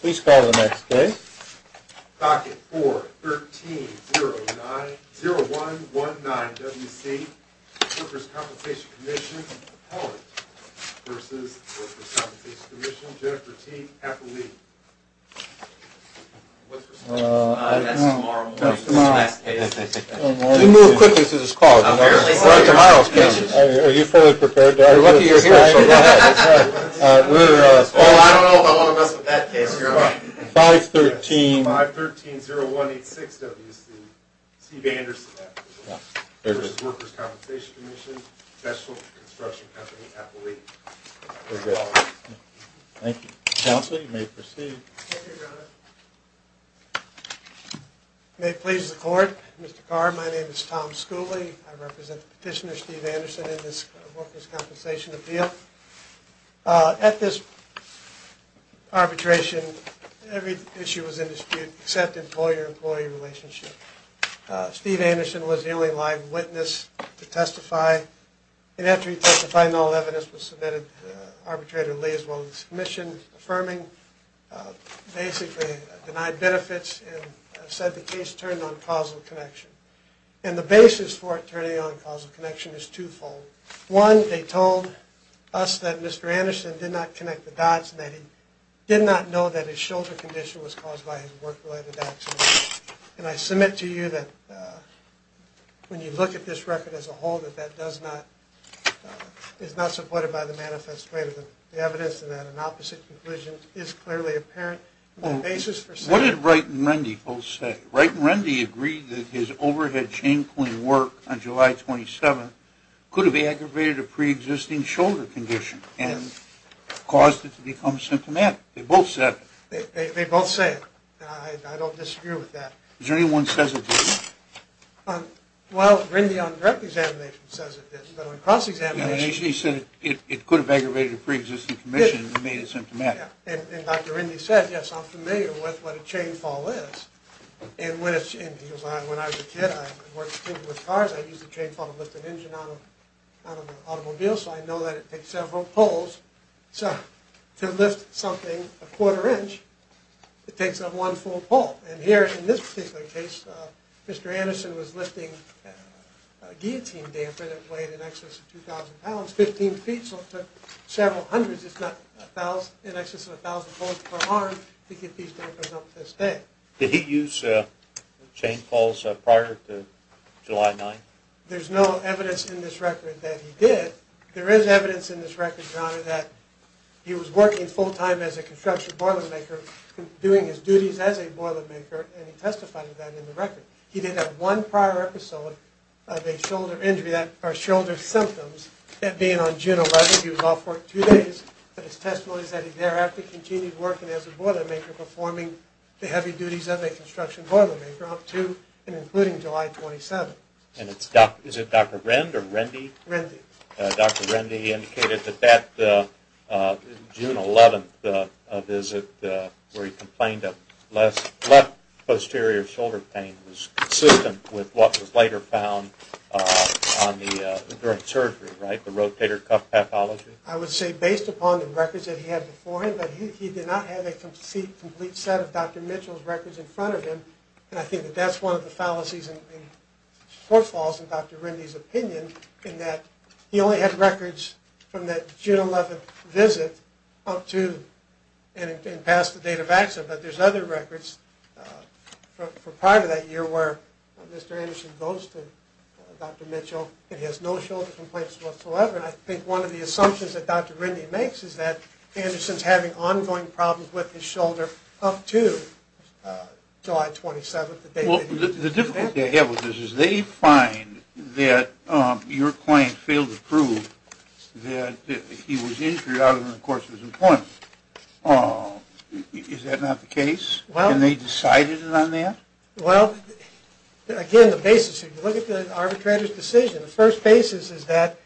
Please call the next case. Pocket 4-13-0-1-1-9-WC Workers' Compensation Commission Appellant vs. Workers' Compensation Commission Jennifer T. Appleby That's tomorrow morning's next case. Let's move quickly to this call. What are tomorrow's cases? Are you fully prepared? I don't know how long I'm going to mess with that case. 5-13-0-1-8-6-WC Steve Anderson Workers' Compensation Commission Special Construction Company Appellate Thank you. Counsel, you may proceed. May it please the court, Mr. Carr, my name is Tom Schooley. I represent Petitioner Steve Anderson in this Workers' Compensation Appeal. At this arbitration, every issue was in dispute except employer-employee relationship. Steve Anderson was the only live witness to testify. And after he testified, no evidence was submitted. Arbitrator Lee, as well as the Commission, affirming, basically denied benefits and said the case turned on causal connection. And the basis for it turning on causal connection is twofold. One, they told us that Mr. Anderson did not connect the dots, and that he did not know that his shoulder condition was caused by his work-related accident. And I submit to you that when you look at this record as a whole, that that does not, is not supported by the manifesto. The evidence to that, an opposite conclusion, is clearly apparent. What did Wright and Rendy both say? Wright and Rendy agreed that his overhead chain-point work on July 27th could have aggravated a pre-existing shoulder condition and caused it to become symptomatic. They both said it. They both said it. I don't disagree with that. Is there anyone who says it didn't? Well, Rendy on direct examination says it did, but on cross-examination... He said it could have aggravated a pre-existing condition and made it symptomatic. And Dr. Rendy said, yes, I'm familiar with what a chain-fall is. And when I was a kid, I worked with cars, I used a chain-fall to lift an engine out of an automobile, so I know that it takes several pulls to lift something a quarter inch. It takes up one full pull. And here, in this particular case, Mr. Anderson was lifting a guillotine damper that weighed in excess of 2,000 pounds, 15 feet. So several hundreds is not in excess of 1,000 pounds per arm to get these dampers up to this day. Did he use chain-falls prior to July 9th? There's no evidence in this record that he did. There is evidence in this record, John, that he was working full-time as a construction boilermaker, doing his duties as a boilermaker, and he testified to that in the record. He did have one prior episode of a shoulder injury or shoulder symptoms. That being on June 11th, he was off work two days. But his testimony is that he thereafter continued working as a boilermaker, performing the heavy duties of a construction boilermaker up to and including July 27th. And is it Dr. Rend or Rendy? Rendy. Dr. Rendy indicated that that June 11th visit where he complained of left posterior shoulder pain was consistent with what was later found during surgery, right, the rotator cuff pathology? I would say based upon the records that he had before him. But he did not have a complete set of Dr. Mitchell's records in front of him. And I think that that's one of the fallacies and shortfalls in Dr. Rendy's opinion in that he only had records from that June 11th visit up to and past the date of accident. But there's other records for prior to that year where Mr. Anderson goes to Dr. Mitchell and he has no shoulder complaints whatsoever. And I think one of the assumptions that Dr. Rendy makes is that Anderson's having ongoing problems with his shoulder up to July 27th, the date that he was injured. Well, the difficulty I have with this is they find that your client failed to prove that he was injured out of the course of his appointment. Is that not the case? And they decided on that? Well, again, the basis, if you look at the arbitrator's decision, the first basis is that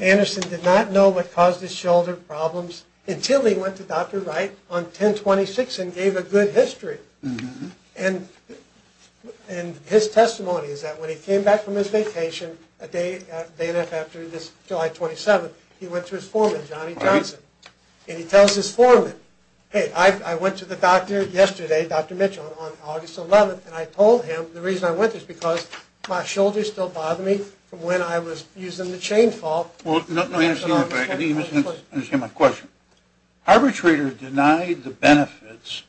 Anderson did not know what caused his shoulder problems until he went to Dr. Wright on 10-26 and gave a good history. And his testimony is that when he came back from his vacation a day and a half after this July 27th, he went to his foreman, Johnny Johnson, and he tells his foreman, hey, I went to the doctor yesterday, Dr. Mitchell, on August 11th, and I told him the reason I went there is because my shoulder still bothered me from when I was using the chainsaw. Well, you must understand my question. Arbitrator denied the benefits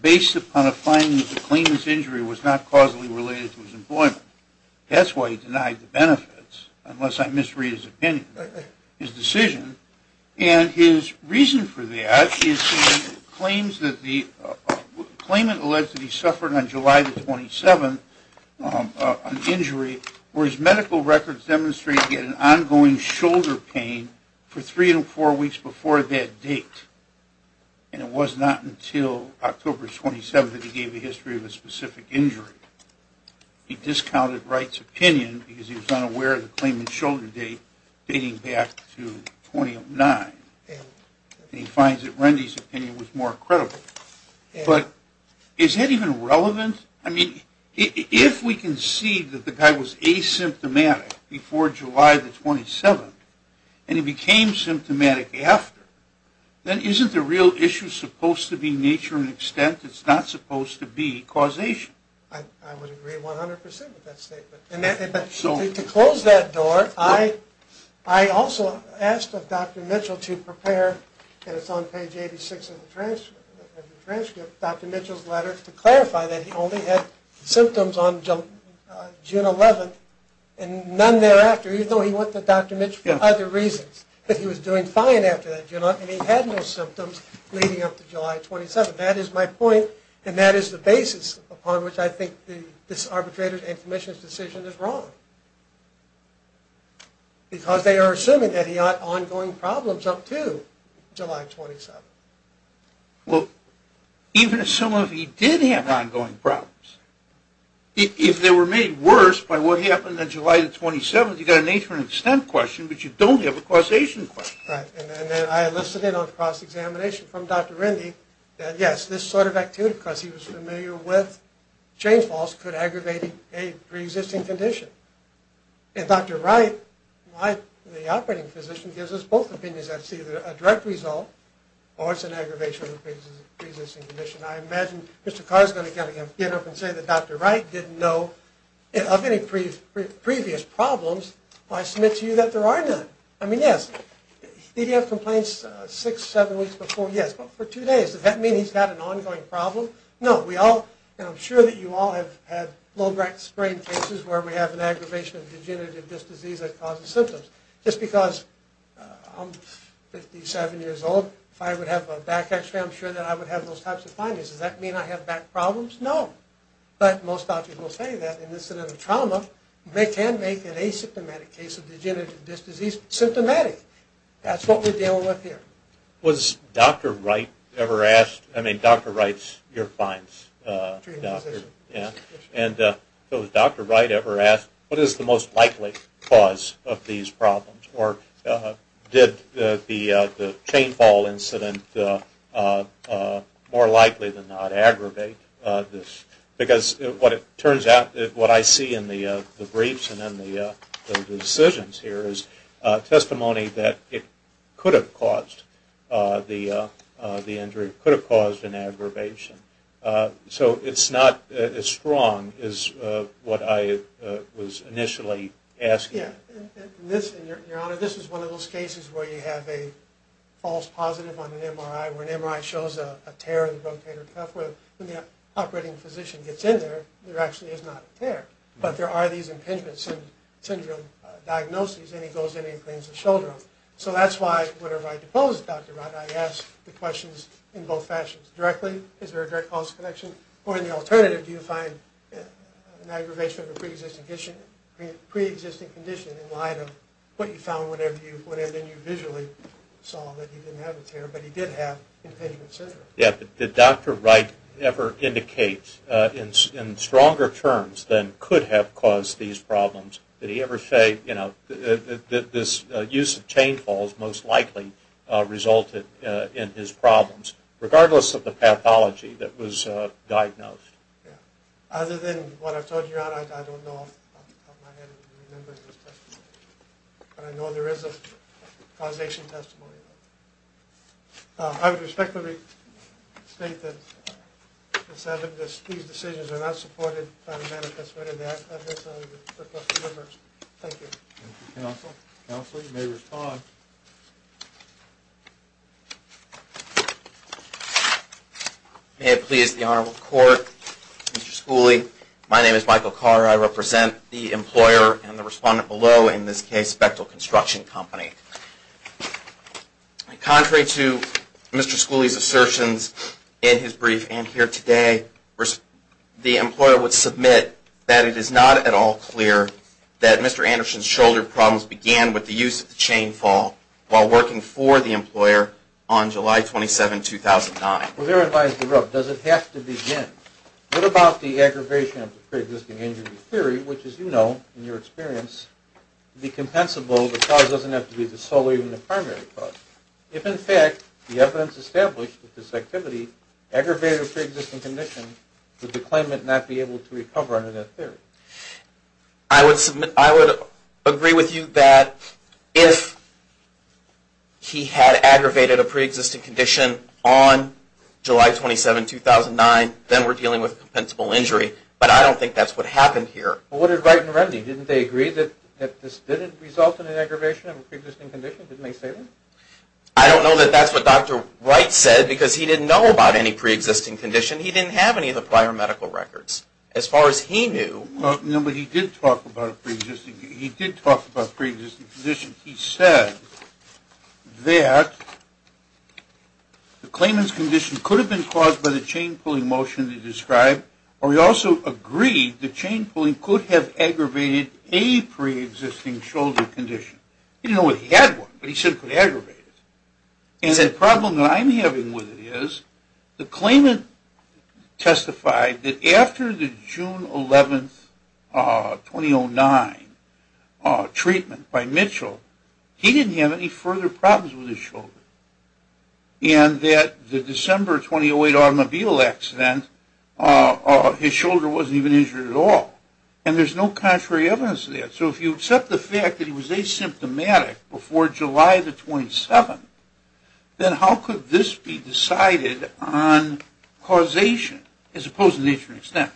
based upon a finding that the claimant's injury was not causally related to his employment. That's why he denied the benefits unless I misread his opinion. His decision. And his reason for that is the claimant alleged that he suffered on July 27th an injury where his medical records demonstrated he had an ongoing shoulder pain for three to four weeks before that date. And it was not until October 27th that he gave a history of a specific injury. He discounted Wright's opinion because he was unaware of the claimant's shoulder pain dating back to 2009. And he finds that Rendy's opinion was more credible. But is that even relevant? I mean, if we can see that the guy was asymptomatic before July the 27th and he became symptomatic after, then isn't the real issue supposed to be nature and extent? It's not supposed to be causation. I would agree 100% with that statement. To close that door, I also asked of Dr. Mitchell to prepare, and it's on page 86 of the transcript, Dr. Mitchell's letter, to clarify that he only had symptoms on June 11th and none thereafter, even though he went to Dr. Mitchell for other reasons. But he was doing fine after that, and he had no symptoms leading up to July 27th. That is my point, and that is the basis upon which I think this arbitrator and commissioner's decision is wrong, because they are assuming that he had ongoing problems up to July 27th. Well, even assuming he did have ongoing problems, if they were made worse by what happened on July the 27th, you've got a nature and extent question, but you don't have a causation question. Right, and then I listed in on cross-examination from Dr. Rendy that, yes, this sort of activity, because he was familiar with chain falls, could aggravate a pre-existing condition. And Dr. Wright, the operating physician, gives us both opinions. That's either a direct result, or it's an aggravation of the pre-existing condition. I imagine Mr. Carr is going to get up and say that Dr. Wright didn't know, of any previous problems, I submit to you that there are none. I mean, yes, did he have complaints six, seven weeks before? Yes. But for two days, does that mean he's got an ongoing problem? No. We all, and I'm sure that you all have had low-grade sprain cases, where we have an aggravation of degenerative disc disease that causes symptoms. Just because I'm 57 years old, if I would have a back x-ray, I'm sure that I would have those types of findings. Does that mean I have back problems? No. But most doctors will say that in this sort of trauma, they can make an asymptomatic case of degenerative disc disease symptomatic. That's what we're dealing with here. Was Dr. Wright ever asked, I mean, Dr. Wright's your client's doctor? Yeah. And so has Dr. Wright ever asked, what is the most likely cause of these problems? Or did the chain fall incident more likely than not aggravate this? Because what it turns out, what I see in the briefs and in the decisions here, is testimony that it could have caused the injury, could have caused an aggravation. So it's not as strong as what I was initially asking. Yeah. And your Honor, this is one of those cases where you have a false positive on an MRI, where an MRI shows a tear in the rotator cuff, where when the operating physician gets in there, there actually is not a tear. But there are these impingement syndrome diagnoses, and he goes in and cleans the shoulder. So that's why, whenever I depose Dr. Wright, I ask the questions in both fashions. Directly, is there a direct causal connection? Or in the alternative, do you find an aggravation of a preexisting condition in light of what you found when you visually saw that he didn't have a tear, but he did have impingement syndrome? Yeah. Did Dr. Wright ever indicate, in stronger terms than could have caused these problems, did he ever say that this use of chain falls most likely resulted in his problems, regardless of the pathology that was diagnosed? Yeah. Other than what I've told you, Your Honor, I don't know off the top of my head if you remember this testimony. But I know there is a causation testimony. I would respectfully state that these decisions are not supported by the manifestment of the evidence. Thank you. Thank you, Counsel. Counsel, you may respond. May it please the Honorable Court, Mr. Schooley, my name is Michael Carr. I represent the employer and the respondent below, in this case, Bechtel Construction Company. Contrary to Mr. Schooley's assertions in his brief and here today, the employer would submit that it is not at all clear that Mr. Anderson's shoulder problems began with the use of the chain fall while working for the employer on July 27, 2009. Well, therein lies the rub. Does it have to begin? What about the aggravation of the preexisting injury theory, which, as you know, in your experience, would be compensable? The cause doesn't have to be the sole or even the primary cause. If, in fact, the evidence established that this activity aggravated a preexisting condition, would the claimant not be able to recover under that theory? I would agree with you that if he had aggravated a preexisting condition on July 27, 2009, then we're dealing with a compensable injury. But I don't think that's what happened here. Well, what did Wright and Remney? Didn't they agree that this didn't result in an aggravation of a preexisting condition? Didn't they say that? I don't know that that's what Dr. Wright said because he didn't know about any preexisting condition. He didn't have any of the prior medical records. As far as he knew... No, but he did talk about a preexisting condition. He did talk about a preexisting condition. He said that the claimant's condition could have been caused by the chain pulling motion he described, or he also agreed the chain pulling could have aggravated a preexisting shoulder condition. He didn't know if he had one, but he said it could aggravate it. And the problem that I'm having with it is the claimant testified that after the June 11, 2009, treatment by Mitchell, he didn't have any further problems with his shoulder. And that the December 2008 automobile accident, his shoulder wasn't even injured at all. And there's no contrary evidence to that. So if you accept the fact that he was asymptomatic before July the 27th, then how could this be decided on causation as opposed to nature and extent?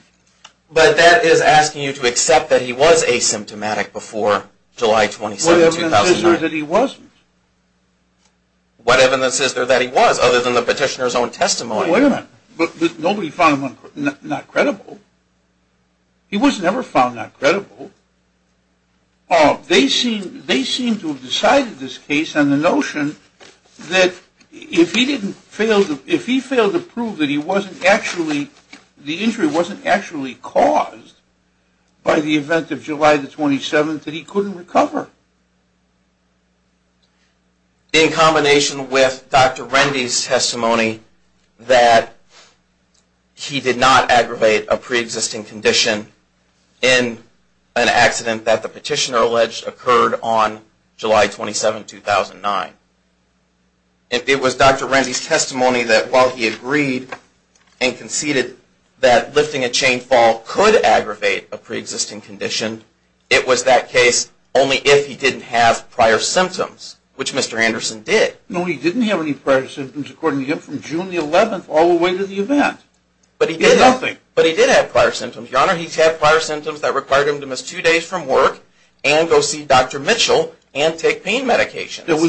But that is asking you to accept that he was asymptomatic before July 27, 2009. What evidence is there that he wasn't? What evidence is there that he was other than the petitioner's own testimony? Wait a minute. Nobody found him not credible. He was never found not credible. They seem to have decided this case on the notion that if he failed to prove that he wasn't actually, the injury wasn't actually caused by the event of July the 27th that he couldn't recover. In combination with Dr. Rendy's testimony that he did not aggravate a preexisting condition in an accident that the petitioner alleged occurred on July 27, 2009. If it was Dr. Rendy's testimony that while he agreed and conceded that lifting a chain fall could aggravate a preexisting condition, it was that case only if he didn't have prior symptoms, which Mr. Anderson did. No, he didn't have any prior symptoms, according to him, from June the 11th all the way to the event. But he did have prior symptoms. Your Honor, he did have prior symptoms that required him to miss two days from work and go see Dr. Mitchell and take pain medications. It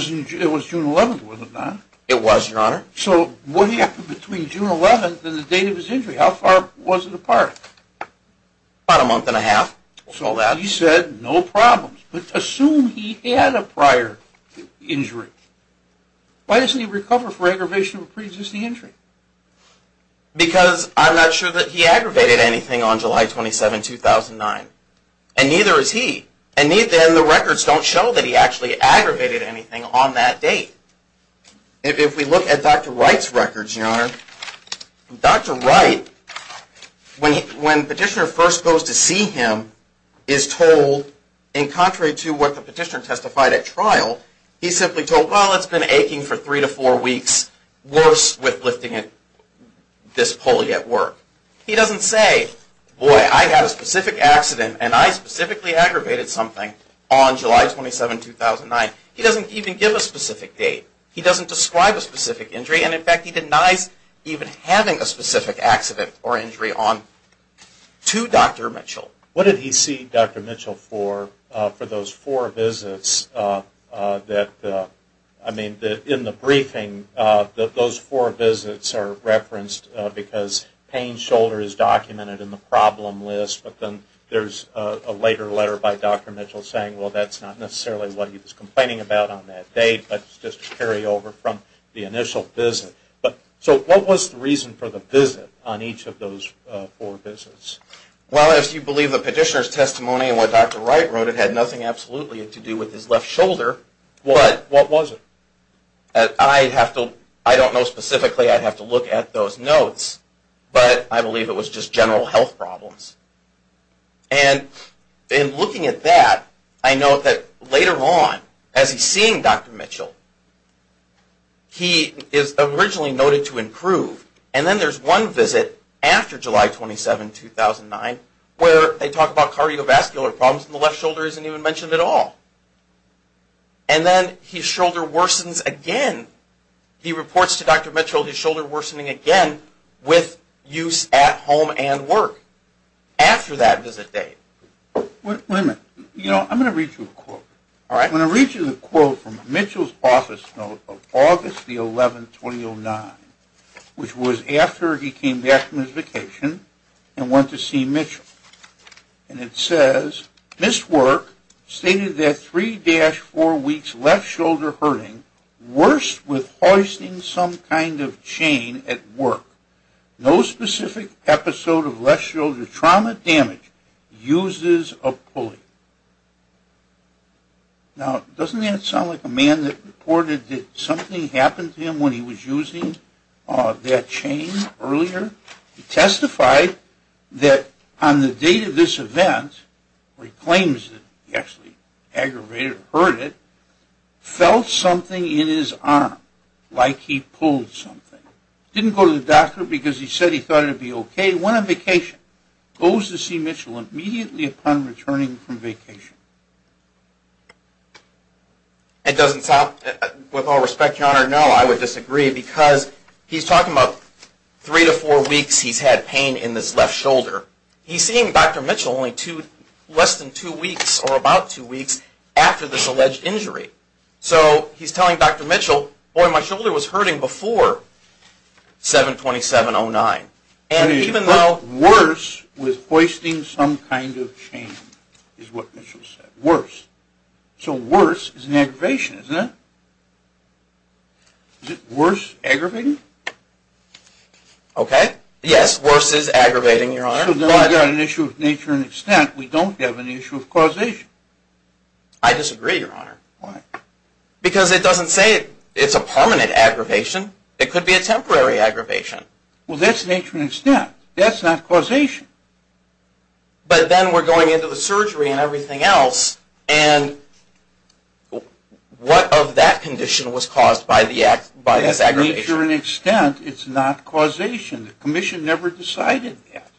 was June the 11th, was it not? It was, Your Honor. So what happened between June the 11th and the date of his injury? How far was it apart? About a month and a half. He said no problems. But assume he had a prior injury. Why doesn't he recover for aggravation of a preexisting injury? Because I'm not sure that he aggravated anything on July 27, 2009. And neither is he. And then the records don't show that he actually aggravated anything on that date. If we look at Dr. Wright's records, Your Honor, Dr. Wright, when Petitioner first goes to see him, is told, in contrary to what the Petitioner testified at trial, he's simply told, well, it's been aching for three to four weeks, worse with lifting this pulley at work. He doesn't say, boy, I had a specific accident and I specifically aggravated something on July 27, 2009. He doesn't even give a specific date. He doesn't describe a specific injury. And, in fact, he denies even having a specific accident or injury to Dr. Mitchell. What did he see Dr. Mitchell for for those four visits that, I mean, in the briefing, those four visits are referenced because pain, shoulder is documented in the problem list. But then there's a later letter by Dr. Mitchell saying, well, that's not necessarily what he was complaining about on that date, but it's just a carryover from the initial visit. So what was the reason for the visit on each of those four visits? Well, as you believe the Petitioner's testimony and what Dr. Wright wrote, it had nothing absolutely to do with his left shoulder. What was it? I don't know specifically. I'd have to look at those notes. But I believe it was just general health problems. And in looking at that, I note that later on, as he's seeing Dr. Mitchell, he is originally noted to improve. And then there's one visit after July 27, 2009, where they talk about cardiovascular problems and the left shoulder isn't even mentioned at all. And then his shoulder worsens again. He reports to Dr. Mitchell his shoulder worsening again with use at home and work after that visit date. Wait a minute. You know, I'm going to read you a quote. All right. I'm going to read you the quote from Mitchell's office note of August 11, 2009, which was after he came back from his vacation and went to see Mitchell. And it says, Missed work stated that 3-4 weeks left shoulder hurting, worst with hoisting some kind of chain at work. No specific episode of left shoulder trauma damage. Uses a pulley. Now, doesn't that sound like a man that reported that something happened to him when he was using that chain earlier? He testified that on the date of this event, where he claims that he actually aggravated or hurt it, felt something in his arm like he pulled something. Didn't go to the doctor because he said he thought it would be okay. Went on vacation. Goes to see Mitchell immediately upon returning from vacation. It doesn't sound, with all respect, Your Honor, no, I would disagree, because he's talking about 3-4 weeks he's had pain in this left shoulder. He's seeing Dr. Mitchell only less than 2 weeks or about 2 weeks after this alleged injury. So he's telling Dr. Mitchell, boy, my shoulder was hurting before 7-27-09. And even though... Worse with hoisting some kind of chain is what Mitchell said. Worse. So worse is an aggravation, isn't it? Is it worse aggravating? Okay. Yes, worse is aggravating, Your Honor. So then we've got an issue of nature and extent. We don't have an issue of causation. I disagree, Your Honor. Why? Because it doesn't say it's a permanent aggravation. It could be a temporary aggravation. Well, that's nature and extent. That's not causation. But then we're going into the surgery and everything else, and what of that condition was caused by this aggravation? That's nature and extent. It's not causation. The commission never decided that.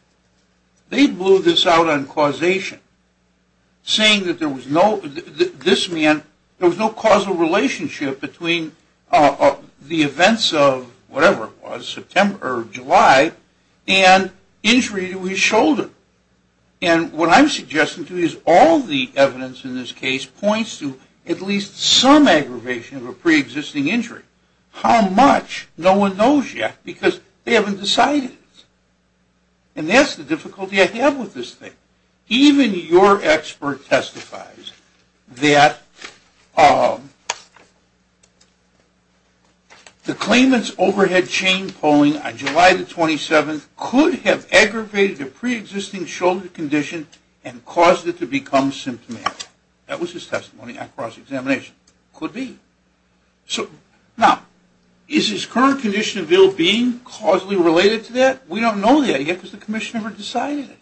They blew this out on causation, saying that there was no causal relationship between the events of whatever it was, September or July, and injury to his shoulder. And what I'm suggesting to you is all the evidence in this case points to at least some aggravation of a preexisting injury. How much? No one knows yet because they haven't decided. And that's the difficulty I have with this thing. Even your expert testifies that the claimant's overhead chain pulling on July the 27th could have aggravated a preexisting shoulder condition and caused it to become symptomatic. That was his testimony across examination. Could be. Now, is his current condition of ill-being causally related to that? We don't know that yet because the commission never decided it.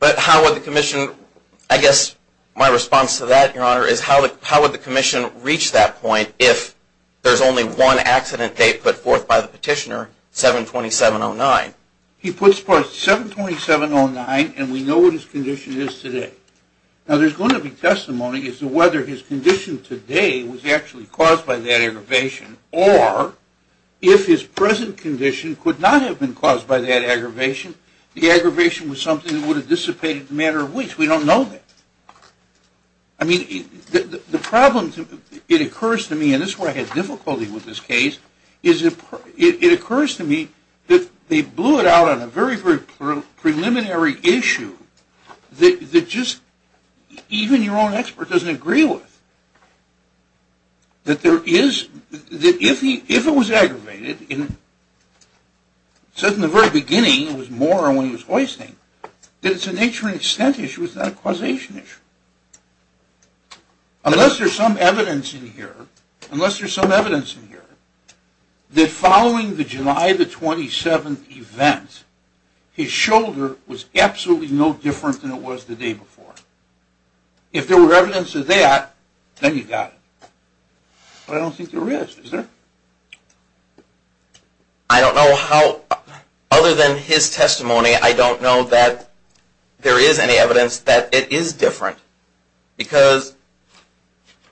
But how would the commission – I guess my response to that, Your Honor, is how would the commission reach that point if there's only one accident date but forth by the petitioner, 7-27-09? He puts forth 7-27-09, and we know what his condition is today. Now, there's going to be testimony as to whether his condition today was actually caused by that aggravation or if his present condition could not have been caused by that aggravation, the aggravation was something that would have dissipated no matter which. We don't know that. I mean, the problem – it occurs to me, and this is where I had difficulty with this case, is it occurs to me that they blew it out on a very, very preliminary issue that just – even your own expert doesn't agree with. That there is – that if it was aggravated in – it says in the very beginning, it was more when it was hoisting, that it's a nature and extent issue, it's not a causation issue. Unless there's some evidence in here, unless there's some evidence in here, that following the July the 27th event, his shoulder was absolutely no different than it was the day before. If there were evidence of that, then you got it. But I don't think there is, is there? I don't know how – other than his testimony, I don't know that there is any evidence that it is different. Because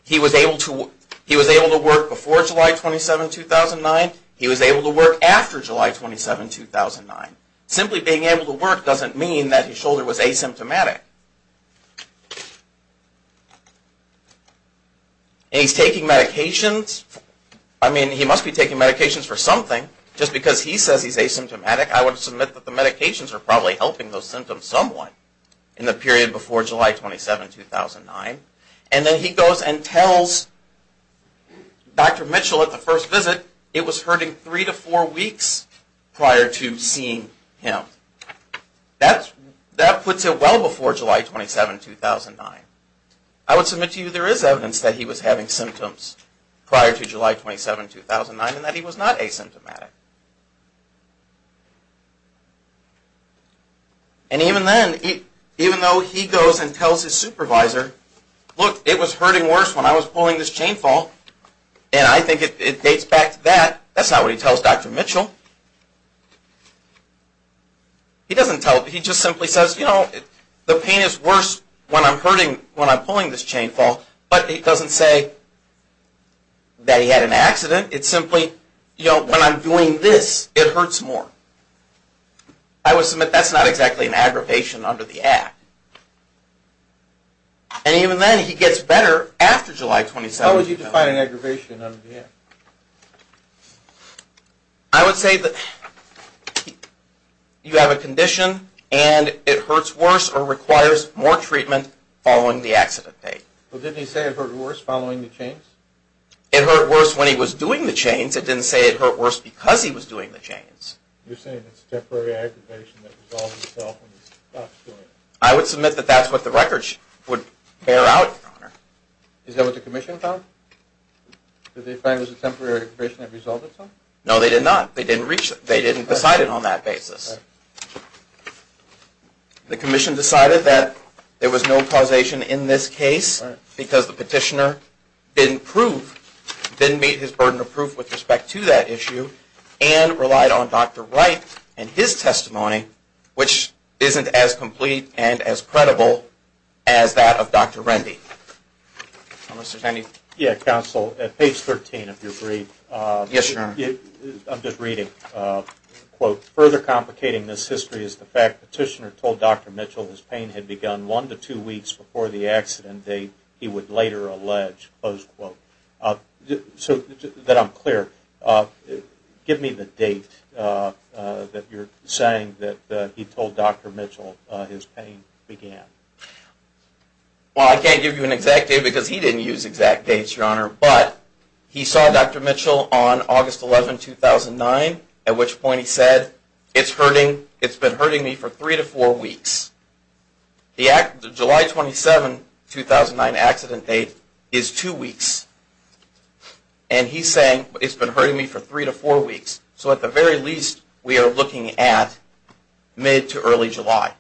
he was able to work before July 27, 2009, he was able to work after July 27, 2009. Simply being able to work doesn't mean that his shoulder was asymptomatic. Okay. And he's taking medications. I mean, he must be taking medications for something. Just because he says he's asymptomatic, I would submit that the medications are probably helping those symptoms somewhat in the period before July 27, 2009. And then he goes and tells Dr. Mitchell at the first visit it was hurting three to four weeks prior to seeing him. That puts it well before July 27, 2009. I would submit to you there is evidence that he was having symptoms prior to July 27, 2009, and that he was not asymptomatic. And even then, even though he goes and tells his supervisor, look, it was hurting worse when I was pulling this chain fall, and I think it dates back to that, that's not what he tells Dr. Mitchell. He doesn't tell, he just simply says, you know, the pain is worse when I'm pulling this chain fall, but he doesn't say that he had an accident. It's simply, you know, when I'm doing this, it hurts more. I would submit that's not exactly an aggravation under the Act. And even then, he gets better after July 27, 2009. How would you define an aggravation under the Act? I would say that you have a condition, and it hurts worse or requires more treatment following the accident date. Well, didn't he say it hurt worse following the chains? It hurt worse when he was doing the chains. It didn't say it hurt worse because he was doing the chains. You're saying it's a temporary aggravation that resolves itself when he stops doing it. Is that what the Commission found? Did they find it was a temporary aggravation that resolved itself? No, they did not. They didn't decide it on that basis. The Commission decided that there was no causation in this case because the petitioner didn't prove, didn't meet his burden of proof with respect to that issue and relied on Dr. Wright and his testimony, which isn't as complete and as credible as that of Dr. Rendy. Mr. Tenney? Yeah, counsel. At page 13, if you're free. Yes, sir. I'm just reading. Quote, Further complicating this history is the fact the petitioner told Dr. Mitchell his pain had begun one to two weeks before the accident date he would later allege. Close quote. So that I'm clear, give me the date that you're saying that he told Dr. Mitchell his pain began. Well, I can't give you an exact date because he didn't use exact dates, Your Honor, but he saw Dr. Mitchell on August 11, 2009, at which point he said, It's been hurting me for three to four weeks. The July 27, 2009 accident date is two weeks. And he's saying, It's been hurting me for three to four weeks. So at the very least, we are looking at mid to early July.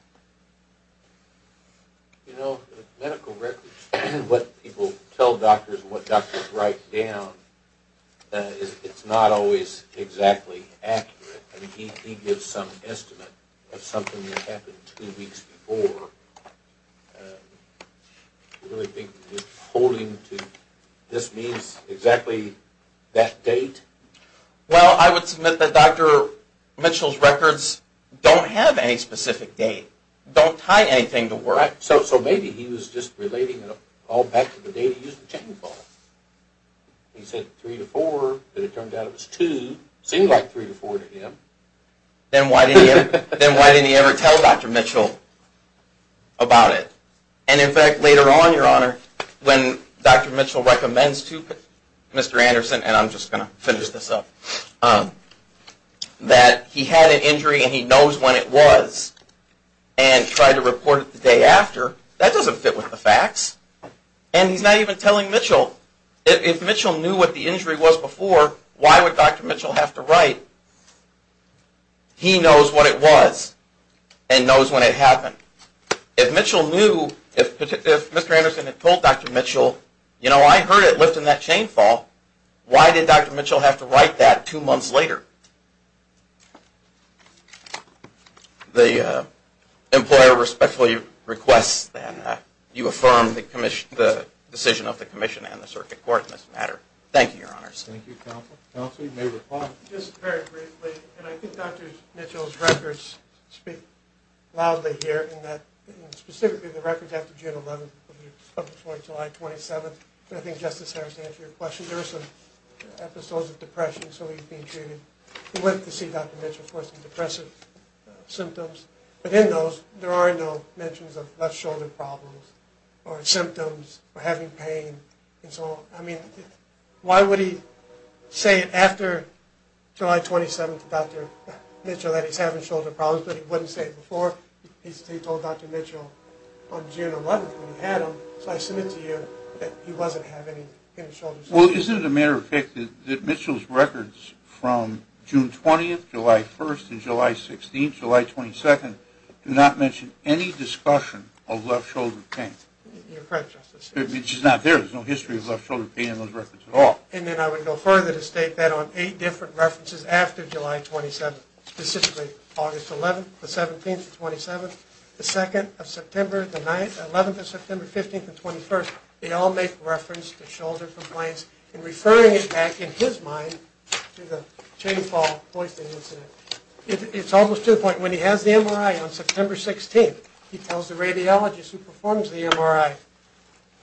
You know, medical records, what people tell doctors and what doctors write down, it's not always exactly accurate. I mean, he gives some estimate of something that happened two weeks before. Do you really think that holding to this means exactly that date? Well, I would submit that Dr. Mitchell's records don't have any specific date, don't tie anything to work. So maybe he was just relating it all back to the date he used the chainsaw. He said three to four, but it turned out it was two. It seemed like three to four to him. Then why didn't he ever tell Dr. Mitchell? About it. And, in fact, later on, Your Honor, when Dr. Mitchell recommends to Mr. Anderson, and I'm just going to finish this up, that he had an injury and he knows when it was and tried to report it the day after, that doesn't fit with the facts. And he's not even telling Mitchell. If Mitchell knew what the injury was before, why would Dr. Mitchell have to write? He knows what it was and knows when it happened. If Mitchell knew, if Mr. Anderson had told Dr. Mitchell, you know, I heard it lifting that chainsaw, why did Dr. Mitchell have to write that two months later? The employer respectfully requests that you affirm the decision of the commission and the circuit court in this matter. Thank you, Your Honors. Thank you, Counsel. Counsel, you may reply. Just very briefly, and I think Dr. Mitchell's records speak loudly here in that, specifically the records after June 11th before July 27th, and I think Justice Harris answered your question. There were some episodes of depression, so he's being treated with, to see Dr. Mitchell, of course, some depressive symptoms. But in those, there are no mentions of left shoulder problems or symptoms or having pain and so on. I mean, why would he say after July 27th to Dr. Mitchell that he's having shoulder problems, but he wouldn't say it before? He told Dr. Mitchell on June 11th when he had them, so I submit to you that he wasn't having any shoulder problems. Well, isn't it a matter of fact that Mitchell's records from June 20th, July 1st, and July 16th, July 22nd, do not mention any discussion of left shoulder pain? You're correct, Justice. It's just not there. There's no history of left shoulder pain in those records at all. And then I would go further to state that on eight different references after July 27th, specifically August 11th, the 17th, the 27th, the 2nd of September, the 9th, the 11th of September, the 15th, and the 21st, they all make reference to shoulder complaints and referring it back in his mind to the chain fall poisoning incident. It's almost to the point when he has the MRI on September 16th, he tells the radiologist who performs the MRI,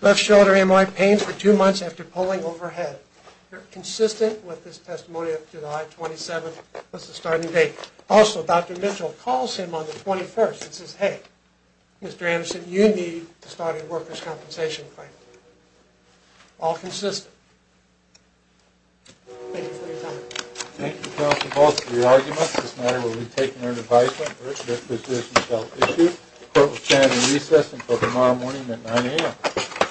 left shoulder MRI pain for two months after pulling overhead. They're consistent with this testimony up to July 27th was the starting date. Also, Dr. Mitchell calls him on the 21st and says, Hey, Mr. Anderson, you need to start a workers' compensation claim. All consistent. Thank you for your time. Thank you, Counselor Bowles, for your argument. This matter will be taken under advisement. The court will stand in recess until tomorrow morning at 9 a.m.